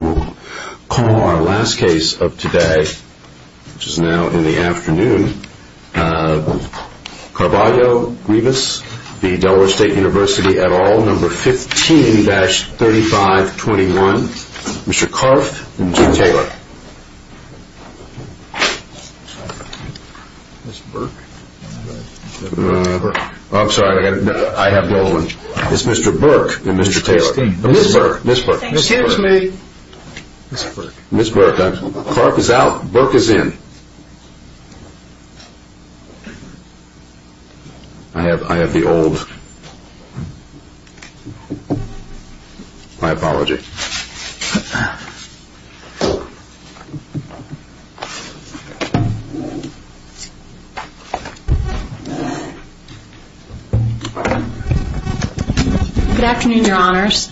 We'll call our last case of today, which is now in the afternoon. Carvalho-Grevious v. Delaware State University et al., No. 15-3521. Mr. Karff and Jim Taylor. Mr. Burke? I'm sorry, I have the old one. It's Mr. Burke and Mr. Taylor. Ms. Burke, Ms. Burke. Ms. Burke, Karff is out, Burke is in. I have the old. My apologies. Good afternoon, Your Honors.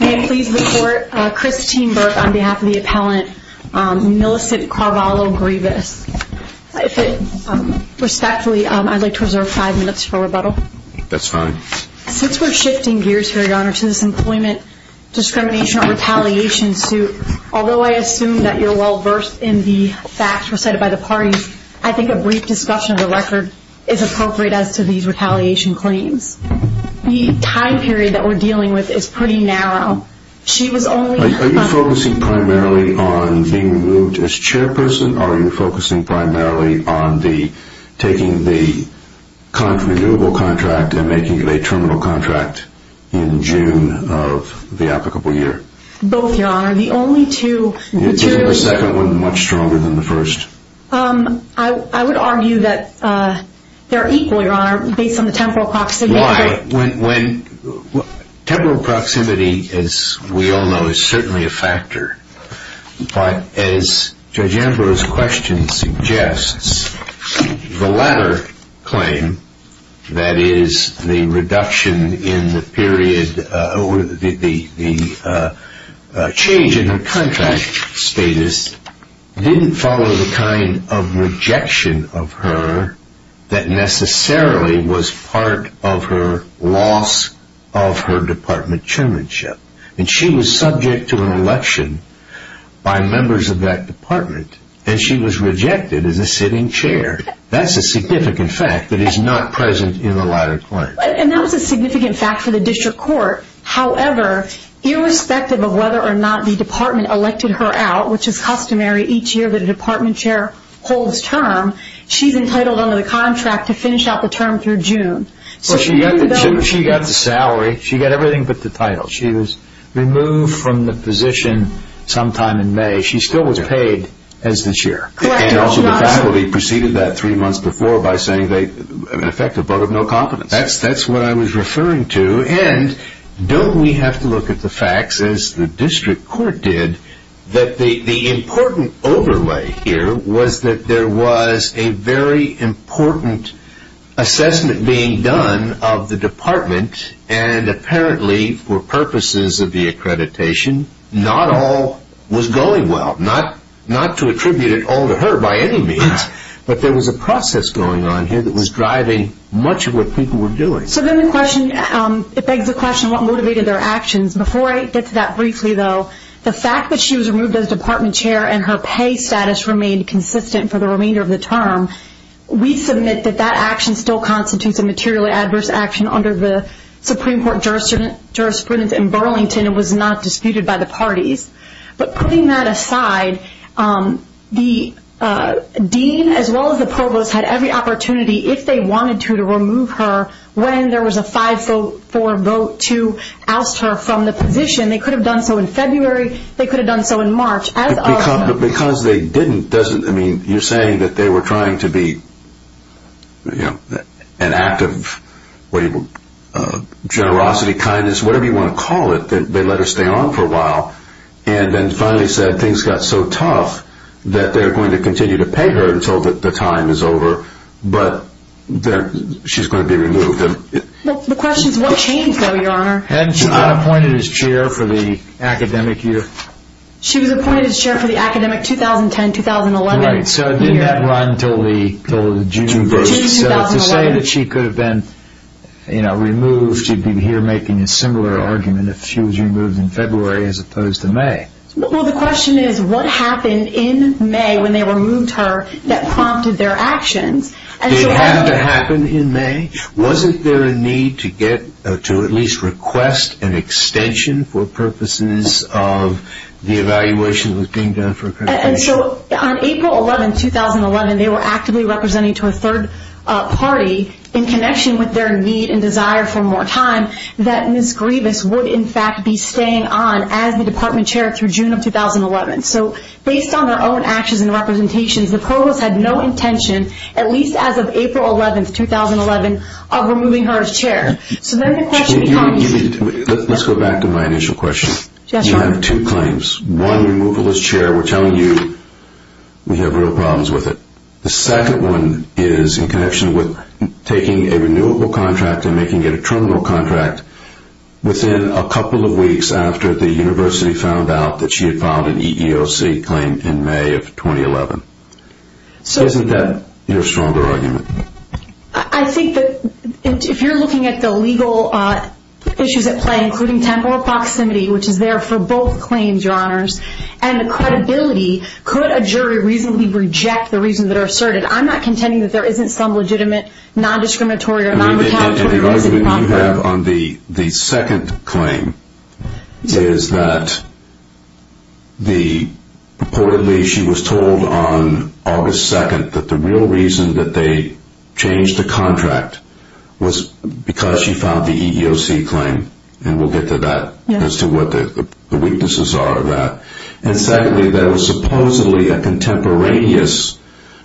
May I please report Christine Burke on behalf of the appellant Millicent Carvalho-Grevious. If it respectfully, I'd like to reserve five minutes for rebuttal. That's fine. Since we're shifting gears here, Your Honor, to this employment discrimination or retaliation suit, although I assume that you're well versed in the facts recited by the parties, I think a brief discussion of the record is appropriate as to these retaliation claims. The time period that we're dealing with is pretty narrow. Are you focusing primarily on being removed as chairperson, or are you focusing primarily on taking the renewable contract and making it a terminal contract in June of the applicable year? Both, Your Honor. The only two materials- Isn't the second one much stronger than the first? I would argue that they're equal, Your Honor, based on the temporal proximity. Why? Temporal proximity, as we all know, is certainly a factor. But as Judge Amber's question suggests, the latter claim, that is, the reduction in the period or the change in her contract status, didn't follow the kind of rejection of her that necessarily was part of her loss of her department chairmanship. And she was subject to an election by members of that department, and she was rejected as a sitting chair. That's a significant fact that is not present in the latter claim. And that was a significant fact for the district court. However, irrespective of whether or not the department elected her out, which is customary each year that a department chair holds term, she's entitled under the contract to finish out the term through June. She got the salary. She got everything but the title. She was removed from the position sometime in May. She still was paid as the chair. And also the faculty preceded that three months before by saying, in effect, a vote of no confidence. That's what I was referring to. And don't we have to look at the facts, as the district court did, that the important overlay here was that there was a very important assessment being done of the department, and apparently for purposes of the accreditation, not all was going well. Not to attribute it all to her by any means, but there was a process going on here that was driving much of what people were doing. So then the question, it begs the question, what motivated their actions? Before I get to that briefly, though, the fact that she was removed as department chair and her pay status remained consistent for the remainder of the term, we submit that that action still constitutes a materially adverse action under the Supreme Court jurisprudence in Burlington and was not disputed by the parties. But putting that aside, the dean as well as the provost had every opportunity, if they wanted to, to remove her when there was a 5-4 vote to oust her from the position. They could have done so in February. They could have done so in March. Because they didn't, you're saying that they were trying to be an act of generosity, kindness, whatever you want to call it. They let her stay on for a while and then finally said things got so tough that they're going to continue to pay her until the time is over. But she's going to be removed. The question is what changed, though, Your Honor? Hadn't she been appointed as chair for the academic year? She was appointed as chair for the academic 2010-2011 year. Right, so didn't that run until the June vote? So to say that she could have been removed, you'd be here making a similar argument if she was removed in February as opposed to May. Well, the question is what happened in May when they removed her that prompted their actions? Did it have to happen in May? Wasn't there a need to at least request an extension for purposes of the evaluation that was being done for accreditation? And so on April 11, 2011, they were actively representing to a third party in connection with their need and desire for more time, that Ms. Grievous would, in fact, be staying on as the department chair through June of 2011. So based on their own actions and representations, the provost had no intention, at least as of April 11, 2011, of removing her as chair. Let's go back to my initial question. You have two claims. One, removal as chair. We're telling you we have real problems with it. The second one is in connection with taking a renewable contract and making it a terminal contract within a couple of weeks after the university found out that she had filed an EEOC claim in May of 2011. Isn't that your stronger argument? I think that if you're looking at the legal issues at play, including temporal proximity, which is there for both claims, Your Honors, and credibility, could a jury reasonably reject the reasons that are asserted? I'm not contending that there isn't some legitimate non-discriminatory or non-retaliatory reason. The argument you have on the second claim is that purportedly she was told on August 2nd that the real reason that they changed the contract was because she filed the EEOC claim, and we'll get to that as to what the weaknesses are of that. Secondly, there was supposedly a contemporaneous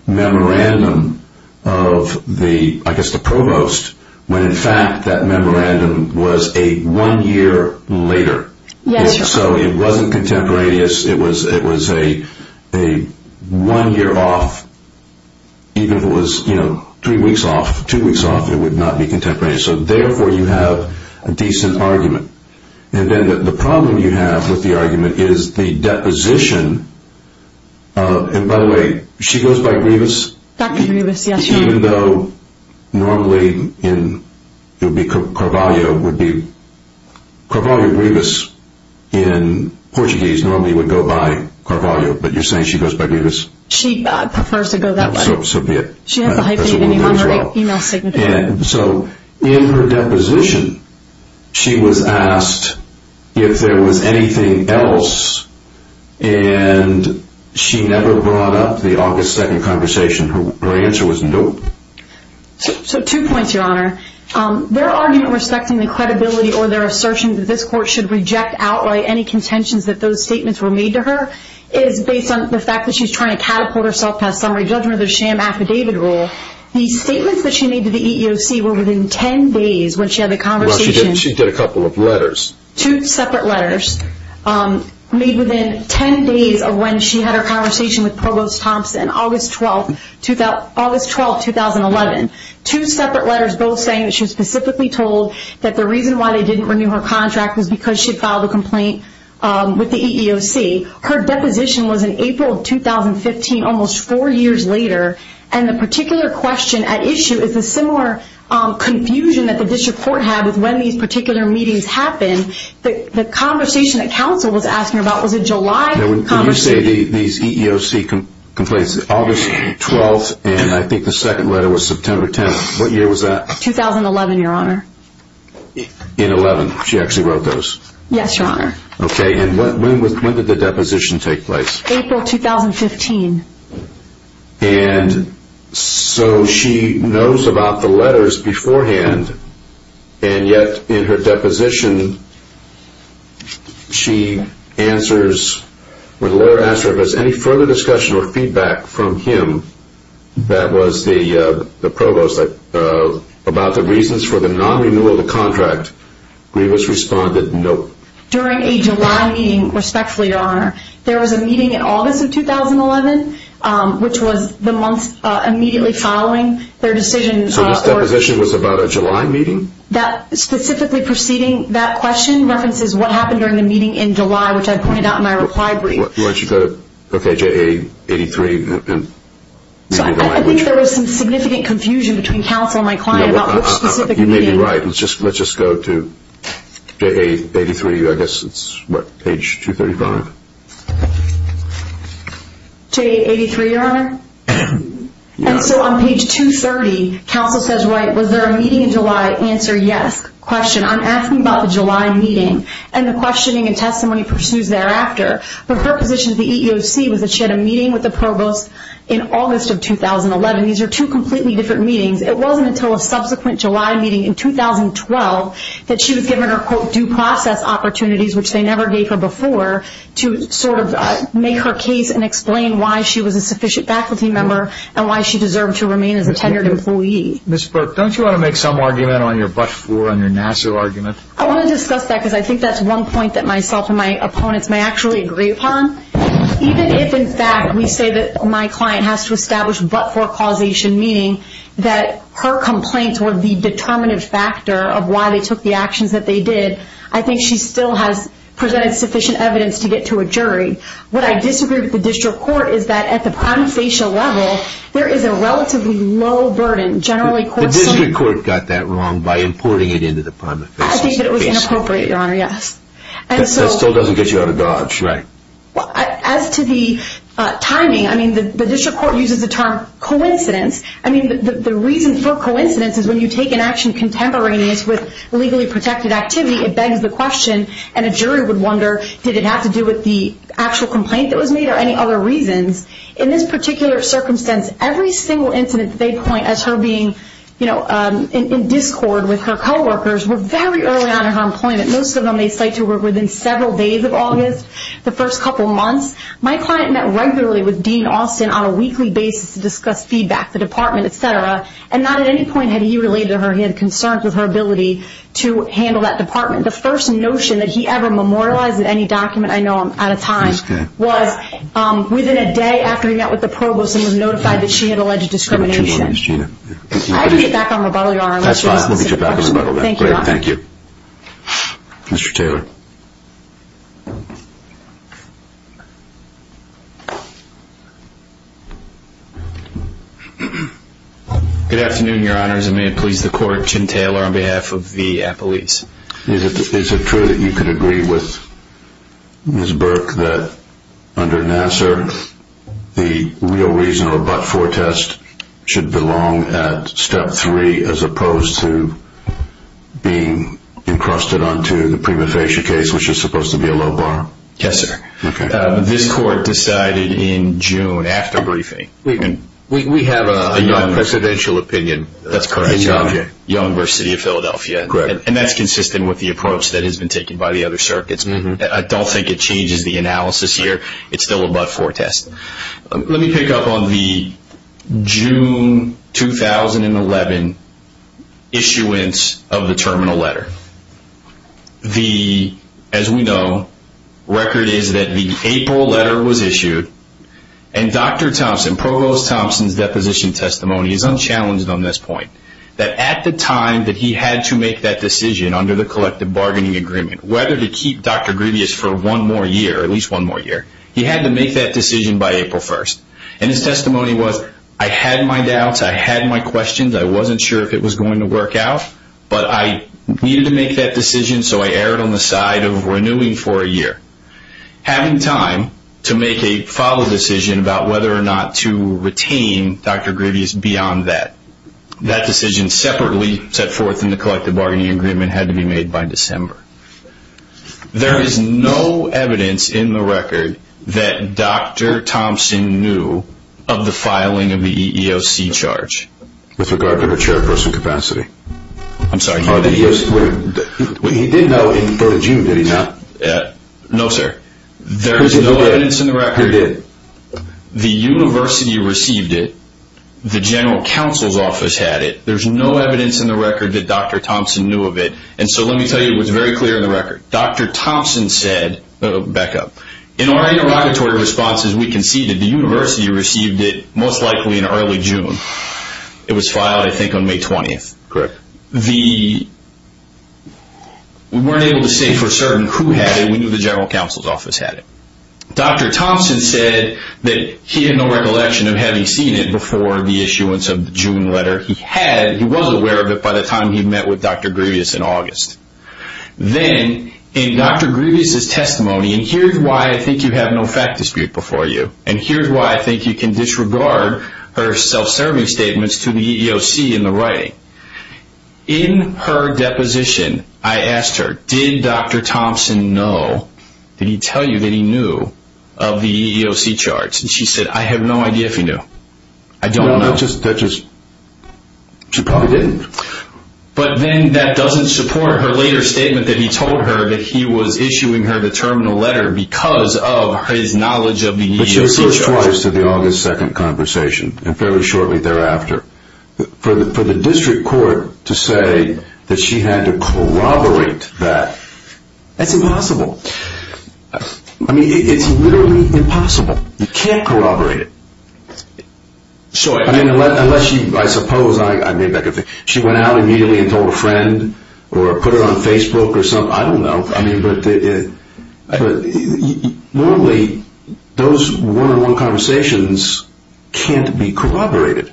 memorandum of the provost, when in fact that memorandum was a one year later. It wasn't contemporaneous. It was a one year off. Even if it was three weeks off, two weeks off, it would not be contemporaneous. Therefore, you have a decent argument. Then the problem you have with the argument is the deposition. By the way, she goes by Grievous? Dr. Grievous, yes. Even though normally it would be Carvalho. Carvalho Grievous in Portuguese normally would go by Carvalho, but you're saying she goes by Grievous? She prefers to go that way. So be it. She has a hyphenated name on her email signature. In her deposition, she was asked if there was anything else, and she never brought up the August 2nd conversation. Her answer was nope. So two points, Your Honor. Their argument respecting the credibility or their assertion that this court should reject, outlay any contentions that those statements were made to her is based on the fact that she's trying to catapult herself past summary judgment of the sham affidavit rule. The statements that she made to the EEOC were within 10 days when she had the conversation. Well, she did a couple of letters. Two separate letters made within 10 days of when she had her conversation with Provost Thompson, August 12, 2011. Two separate letters both saying that she was specifically told that the reason why they didn't renew her contract was because she had filed a complaint with the EEOC. Her deposition was in April of 2015, almost four years later, and the particular question at issue is a similar confusion that the district court had with when these particular meetings happened. The conversation that counsel was asking about was a July conversation. When you say these EEOC complaints, August 12, and I think the second letter was September 10. What year was that? 2011, Your Honor. In 11, she actually wrote those? Yes, Your Honor. Okay, and when did the deposition take place? April 2015. And so she knows about the letters beforehand, and yet in her deposition she answers, when the lawyer asked her if there was any further discussion or feedback from him, that was the provost, about the reasons for the non-renewal of the contract. Grievous responded, nope. There was a meeting in August of 2011, which was the month immediately following their decision. So this deposition was about a July meeting? Specifically preceding that question references what happened during the meeting in July, which I pointed out in my reply brief. Okay, JA83. I think there was some significant confusion between counsel and my client about which specific meeting. You may be right. Let's just go to JA83. I guess it's, what, page 235? JA83, Your Honor? Yeah. And so on page 230, counsel says, right, was there a meeting in July? Answer, yes. Question, I'm asking about the July meeting and the questioning and testimony pursues thereafter. Her position at the EEOC was that she had a meeting with the provost in August of 2011. These are two completely different meetings. It wasn't until a subsequent July meeting in 2012 that she was given her, quote, due process opportunities, which they never gave her before, to sort of make her case and explain why she was a sufficient faculty member and why she deserved to remain as a tenured employee. Ms. Burke, don't you want to make some argument on your bus floor, on your NASA argument? I want to discuss that because I think that's one point that myself and my opponents may actually agree upon. Even if, in fact, we say that my client has to establish but-for causation, meaning that her complaints were the determinative factor of why they took the actions that they did, I think she still has presented sufficient evidence to get to a jury. What I disagree with the district court is that at the prima facie level, there is a relatively low burden. The district court got that wrong by importing it into the prima facie. I think it was inappropriate, Your Honor, yes. That still doesn't get you out of dodge, right. As to the timing, I mean, the district court uses the term coincidence. I mean, the reason for coincidence is when you take an action contemporaneous with legally protected activity, it begs the question, and a jury would wonder, did it have to do with the actual complaint that was made or any other reasons? In this particular circumstance, every single incident that they point as her being, you know, in discord with her coworkers were very early on in her employment. Most of them they cite to her within several days of August, the first couple months. My client met regularly with Dean Austin on a weekly basis to discuss feedback, the department, et cetera, and not at any point had he related to her. He had concerns with her ability to handle that department. The first notion that he ever memorialized in any document, I know I'm out of time, was within a day after he met with the provost and was notified that she had alleged discrimination. I have to get back on rebuttal, Your Honor. That's fine, we'll get you back on rebuttal then. Thank you, Your Honor. Thank you. Mr. Taylor. Good afternoon, Your Honors, and may it please the court, Jim Taylor on behalf of the appellees. Is it true that you could agree with Ms. Burke that under Nassar, the real reason of a but-for test should belong at step three as opposed to being encrusted onto the prima facie case, which is supposed to be a low bar? Yes, sir. Okay. This court decided in June after briefing. We have a non-presidential opinion. That's correct. Young versus City of Philadelphia. Correct. And that's consistent with the approach that has been taken by the other circuits. I don't think it changes the analysis here. It's still a but-for test. Let me pick up on the June 2011 issuance of the terminal letter. As we know, record is that the April letter was issued, and Dr. Thompson, Provost Thompson's deposition testimony is unchallenged on this point, that at the time that he had to make that decision under the collective bargaining agreement, whether to keep Dr. Grevious for one more year, at least one more year, he had to make that decision by April 1st. And his testimony was, I had my doubts, I had my questions, I wasn't sure if it was going to work out, but I needed to make that decision, so I erred on the side of renewing for a year. Having time to make a follow-up decision about whether or not to retain Dr. Grevious beyond that, that decision separately set forth in the collective bargaining agreement had to be made by December. There is no evidence in the record that Dr. Thompson knew of the filing of the EEOC charge. With regard to the chairperson capacity? I'm sorry. He did know in June, did he not? There is no evidence in the record. The chair did. The university received it. The general counsel's office had it. There is no evidence in the record that Dr. Thompson knew of it, and so let me tell you what's very clear in the record. Dr. Thompson said, back up, in our interrogatory responses we conceded the university received it most likely in early June. It was filed, I think, on May 20th. Correct. We weren't able to say for certain who had it. We knew the general counsel's office had it. Dr. Thompson said that he had no recollection of having seen it before the issuance of the June letter. He was aware of it by the time he met with Dr. Grevious in August. Then, in Dr. Grevious' testimony, and here's why I think you have no fact dispute before you, and here's why I think you can disregard her self-serving statements to the EEOC in the writing. In her deposition, I asked her, did Dr. Thompson know, did he tell you that he knew of the EEOC charts? She said, I have no idea if he knew. I don't know. She probably didn't. But then that doesn't support her later statement that he told her that he was issuing her the terminal letter because of his knowledge of the EEOC charts. But she was first twice to the August 2nd conversation, and fairly shortly thereafter. For the district court to say that she had to corroborate that, that's impossible. I mean, it's literally impossible. You can't corroborate it. I mean, unless she, I suppose, she went out immediately and told a friend, or put it on Facebook or something, I don't know. I mean, but normally those one-on-one conversations can't be corroborated.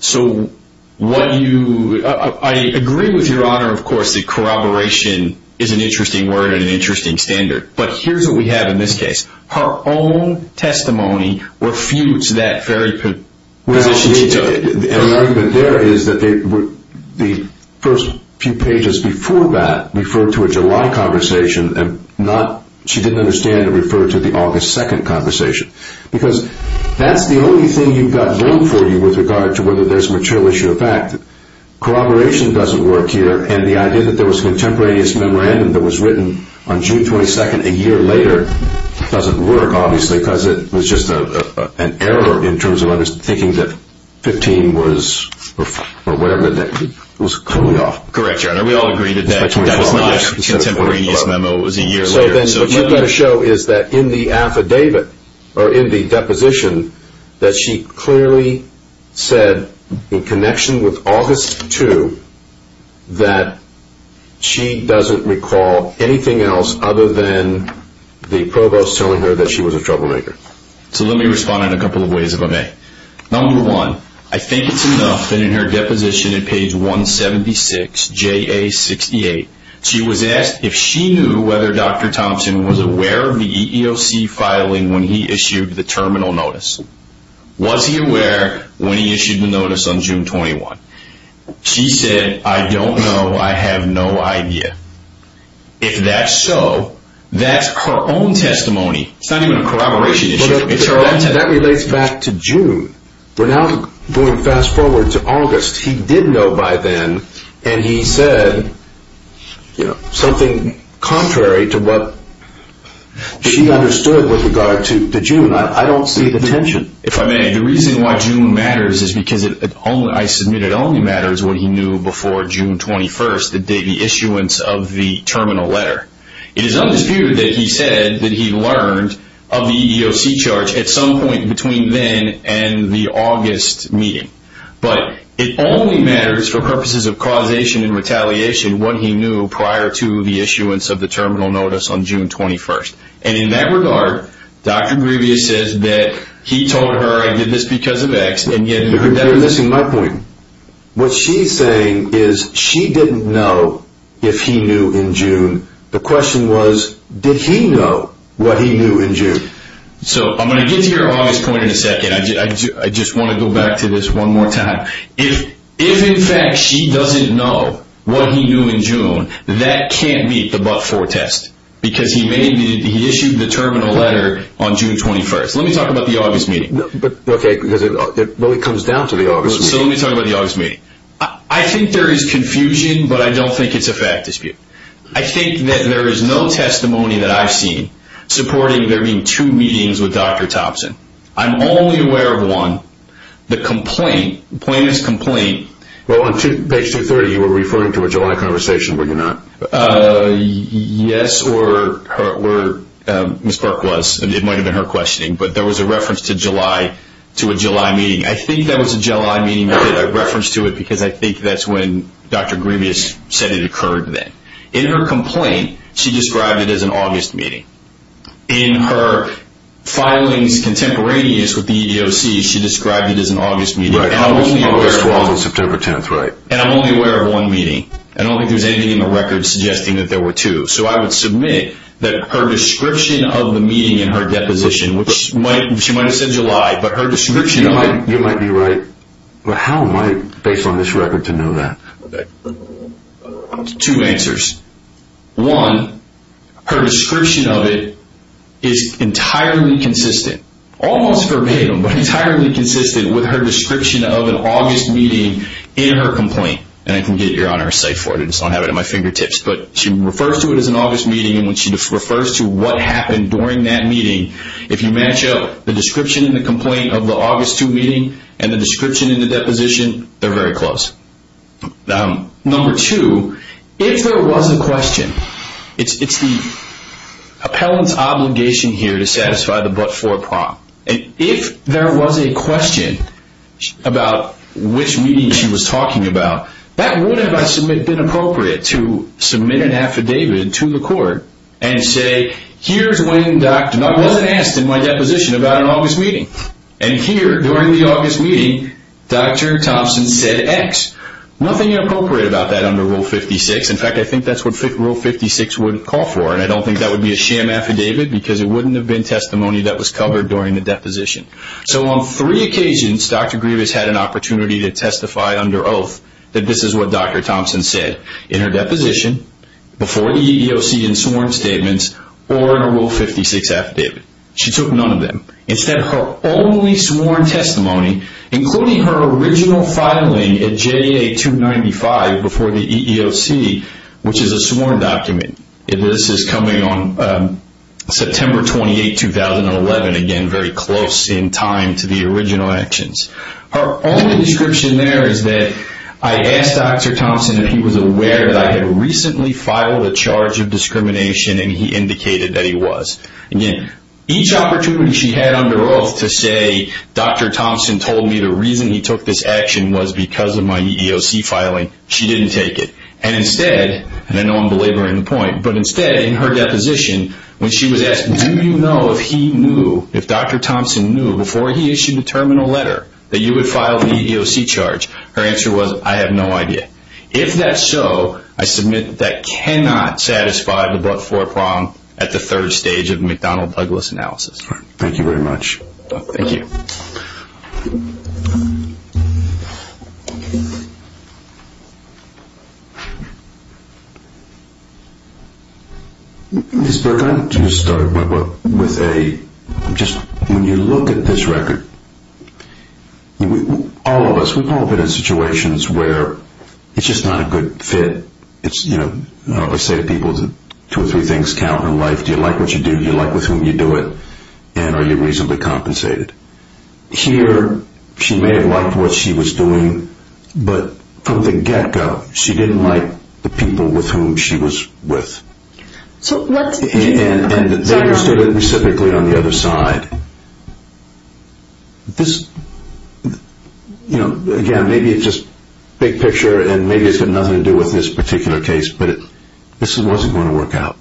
So what you, I agree with Your Honor, of course, that corroboration is an interesting word and an interesting standard. But here's what we have in this case. Her own testimony refutes that very position she took. And the argument there is that the first few pages before that referred to a July conversation, and she didn't understand it referred to the August 2nd conversation. Because that's the only thing you've got going for you with regard to whether there's a material issue or fact. Corroboration doesn't work here, and the idea that there was a contemporaneous memorandum that was written on June 22nd a year later doesn't work, obviously, because it was just an error in terms of understanding that 15 was, or whatever, it was coming off. Correct, Your Honor, we all agree that that was not a contemporaneous memo, it was a year later. So then what you've got to show is that in the affidavit, or in the deposition, that she clearly said in connection with August 2 that she doesn't recall anything else other than the provost telling her that she was a troublemaker. So let me respond in a couple of ways if I may. Number one, I think it's enough that in her deposition in page 176, JA 68, she was asked if she knew whether Dr. Thompson was aware of the EEOC filing when he issued the terminal notice. Was he aware when he issued the notice on June 21? She said, I don't know, I have no idea. If that's so, that's her own testimony. It's not even a corroboration issue. That relates back to June. We're now going fast forward to August. He did know by then, and he said something contrary to what she understood with regard to June. I don't see the tension. If I may, the reason why June matters is because it only, I submit it only matters what he knew before June 21, the issuance of the terminal letter. It is undisputed that he said that he learned of the EEOC charge at some point between then and the August meeting. But it only matters for purposes of causation and retaliation what he knew prior to the issuance of the terminal notice on June 21. And in that regard, Dr. Grevious says that he told her, I did this because of X, and yet that was missing my point. What she's saying is she didn't know if he knew in June. The question was, did he know what he knew in June? So I'm going to get to your August point in a second. I just want to go back to this one more time. If in fact she doesn't know what he knew in June, that can't meet the but-for test. Because he issued the terminal letter on June 21. Let me talk about the August meeting. Okay, because it really comes down to the August meeting. So let me talk about the August meeting. I think there is confusion, but I don't think it's a fact dispute. I think that there is no testimony that I've seen supporting there being two meetings with Dr. Thompson. I'm only aware of one. The complaint, plaintiff's complaint. Well, on page 230, you were referring to a July conversation, were you not? Yes, or Ms. Burke was. It might have been her questioning. But there was a reference to a July meeting. I think that was a July meeting. I put a reference to it because I think that's when Dr. Grievous said it occurred then. In her complaint, she described it as an August meeting. In her filings contemporaneous with the EEOC, she described it as an August meeting. Right, August 12th and September 10th, right. And I'm only aware of one meeting. I don't think there's anything in the record suggesting that there were two. So I would submit that her description of the meeting in her deposition, which she might have said July, but her description of it. You might be right. But how am I, based on this record, to know that? Two answers. One, her description of it is entirely consistent, almost verbatim, but entirely consistent with her description of an August meeting in her complaint. And I can get you on her site for it. I just don't have it at my fingertips. But she refers to it as an August meeting. And when she refers to what happened during that meeting, if you match up the description in the complaint of the August 2 meeting and the description in the deposition, they're very close. Number two, if there was a question, it's the appellant's obligation here to satisfy the but-for prompt. And if there was a question about which meeting she was talking about, that would, if I submit, have been appropriate to submit an affidavit to the court and say, here's when Dr. Thompson was asked in my deposition about an August meeting. And here, during the August meeting, Dr. Thompson said X. Nothing inappropriate about that under Rule 56. In fact, I think that's what Rule 56 would call for. And I don't think that would be a sham affidavit because it wouldn't have been testimony that was covered during the deposition. So on three occasions, Dr. Grievous had an opportunity to testify under oath that this is what Dr. Thompson said in her deposition, before EEOC in sworn statements, or in a Rule 56 affidavit. She took none of them. Instead, her only sworn testimony, including her original filing at JA 295 before the EEOC, which is a sworn document, and this is coming on September 28, 2011, again, very close in time to the original actions. Her only description there is that, I asked Dr. Thompson if he was aware that I had recently filed a charge of discrimination, and he indicated that he was. Again, each opportunity she had under oath to say, Dr. Thompson told me the reason he took this action was because of my EEOC filing, she didn't take it. And instead, and I know I'm belaboring the point, but instead, in her deposition, when she was asked, do you know if he knew, if Dr. Thompson knew, before he issued the terminal letter that you would file the EEOC charge, her answer was, I have no idea. If that's so, I submit that cannot satisfy the fourth prong at the third stage of the McDonnell-Douglas analysis. Thank you very much. Thank you. Ms. Burke, I'd like to start with a, just, when you look at this record, all of us, we've all been in situations where it's just not a good fit. It's, you know, I always say to people, two or three things count in life. Do you like what you do? Do you like with whom you do it? And are you reasonably compensated? Here, she may have liked what she was doing, but from the get-go, she didn't like the people with whom she was with. And they understood it specifically on the other side. This, you know, again, maybe it's just big picture and maybe it's got nothing to do with this particular case, but this wasn't going to work out.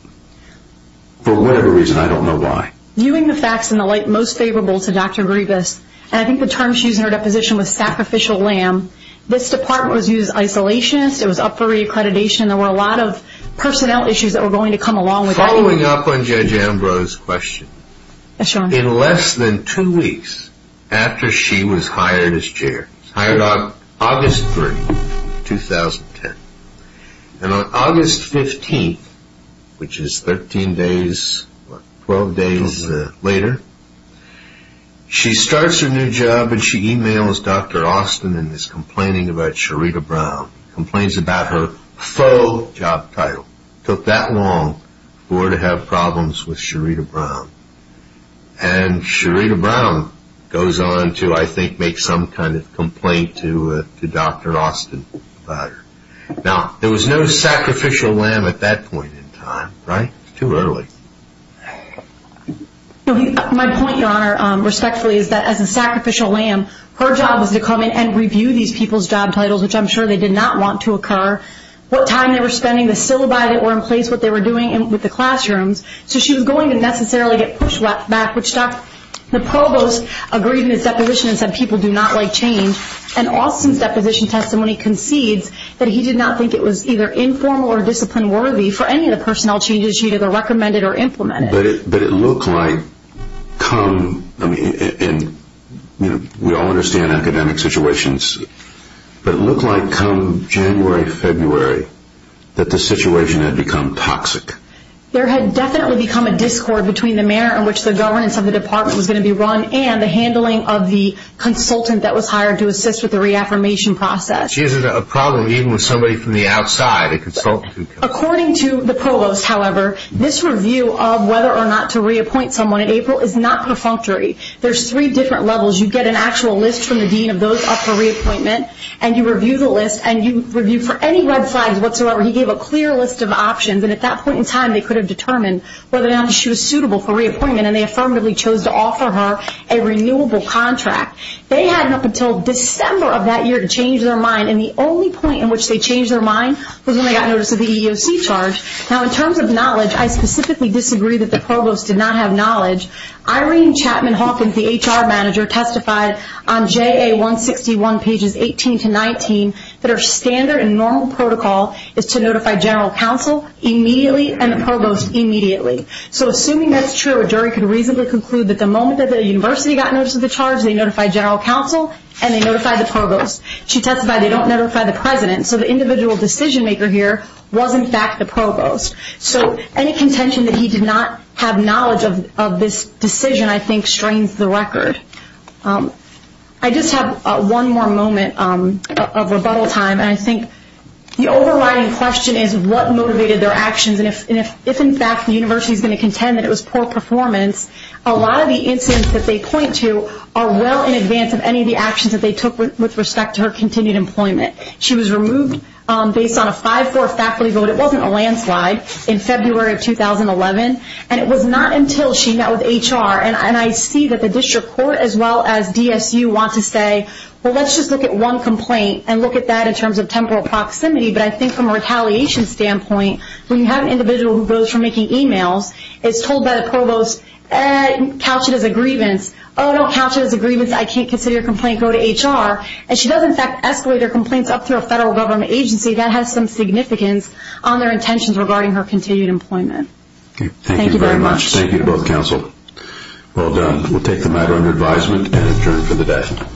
For whatever reason, I don't know why. Viewing the facts in the light most favorable to Dr. Griebus, and I think the term she used in her deposition was sacrificial lamb, this department was used isolationist, it was up for reaccreditation, there were a lot of personnel issues that were going to come along with that. Following up on Judge Ambrose's question, in less than two weeks after she was hired as chair, hired on August 3, 2010, and on August 15th, which is 13 days, 12 days later, she starts her new job and she emails Dr. Austin and is complaining about Sherita Brown. Complains about her faux job title. Took that long for her to have problems with Sherita Brown. And Sherita Brown goes on to, I think, make some kind of complaint to Dr. Austin about her. Now, there was no sacrificial lamb at that point in time, right? Too early. My point, Your Honor, respectfully, is that as a sacrificial lamb, her job was to come in and review these people's job titles, which I'm sure they did not want to occur, what time they were spending, the syllabi that were in place, what they were doing with the classrooms. So she was going to necessarily get pushback, which the provost agreed in his deposition and said people do not like change. And Austin's deposition testimony concedes that he did not think it was either informal or discipline worthy for any of the personnel changes she either recommended or implemented. But it looked like come, I mean, we all understand academic situations, but it looked like come January, February, that the situation had become toxic. There had definitely become a discord between the manner in which the governance of the department was going to be run and the handling of the consultant that was hired to assist with the reaffirmation process. According to the provost, however, this review of whether or not to reappoint someone in April is not perfunctory. There's three different levels. You get an actual list from the dean of those up for reappointment, and you review the list, and you review for any red flags whatsoever. He gave a clear list of options, and at that point in time, they could have determined whether or not she was suitable for reappointment, and they affirmatively chose to offer her a renewable contract. They had up until December of that year to change their mind, and the only point in which they changed their mind was when they got notice of the EEOC charge. Now, in terms of knowledge, I specifically disagree that the provost did not have knowledge. Irene Chapman Hawkins, the HR manager, testified on JA 161 pages 18 to 19 that her standard and normal protocol is to notify general counsel immediately and the provost immediately. So assuming that's true, a jury could reasonably conclude that the moment that the university got notice of the charge, they notified general counsel and they notified the provost. She testified they don't notify the president, so the individual decision maker here was, in fact, the provost. So any contention that he did not have knowledge of this decision, I think, strains the record. I just have one more moment of rebuttal time, and I think the overriding question is what motivated their actions, and if, in fact, the university is going to contend that it was poor performance, a lot of the incidents that they point to are well in advance of any of the actions that they took with respect to her continued employment. She was removed based on a 5-4 faculty vote. It wasn't a landslide in February of 2011, and it was not until she met with HR, and I see that the district court as well as DSU want to say, well, let's just look at one complaint and look at that in terms of temporal proximity, but I think from a retaliation standpoint, when you have an individual who goes from making e-mails, it's told by the provost, couch it as a grievance. Oh, no, couch it as a grievance. I can't consider your complaint. Go to HR. And she does, in fact, escalate her complaints up through a federal government agency. That has some significance on their intentions regarding her continued employment. Thank you very much. Thank you to both counsel. Well done. We'll take the matter under advisement and adjourn for the day.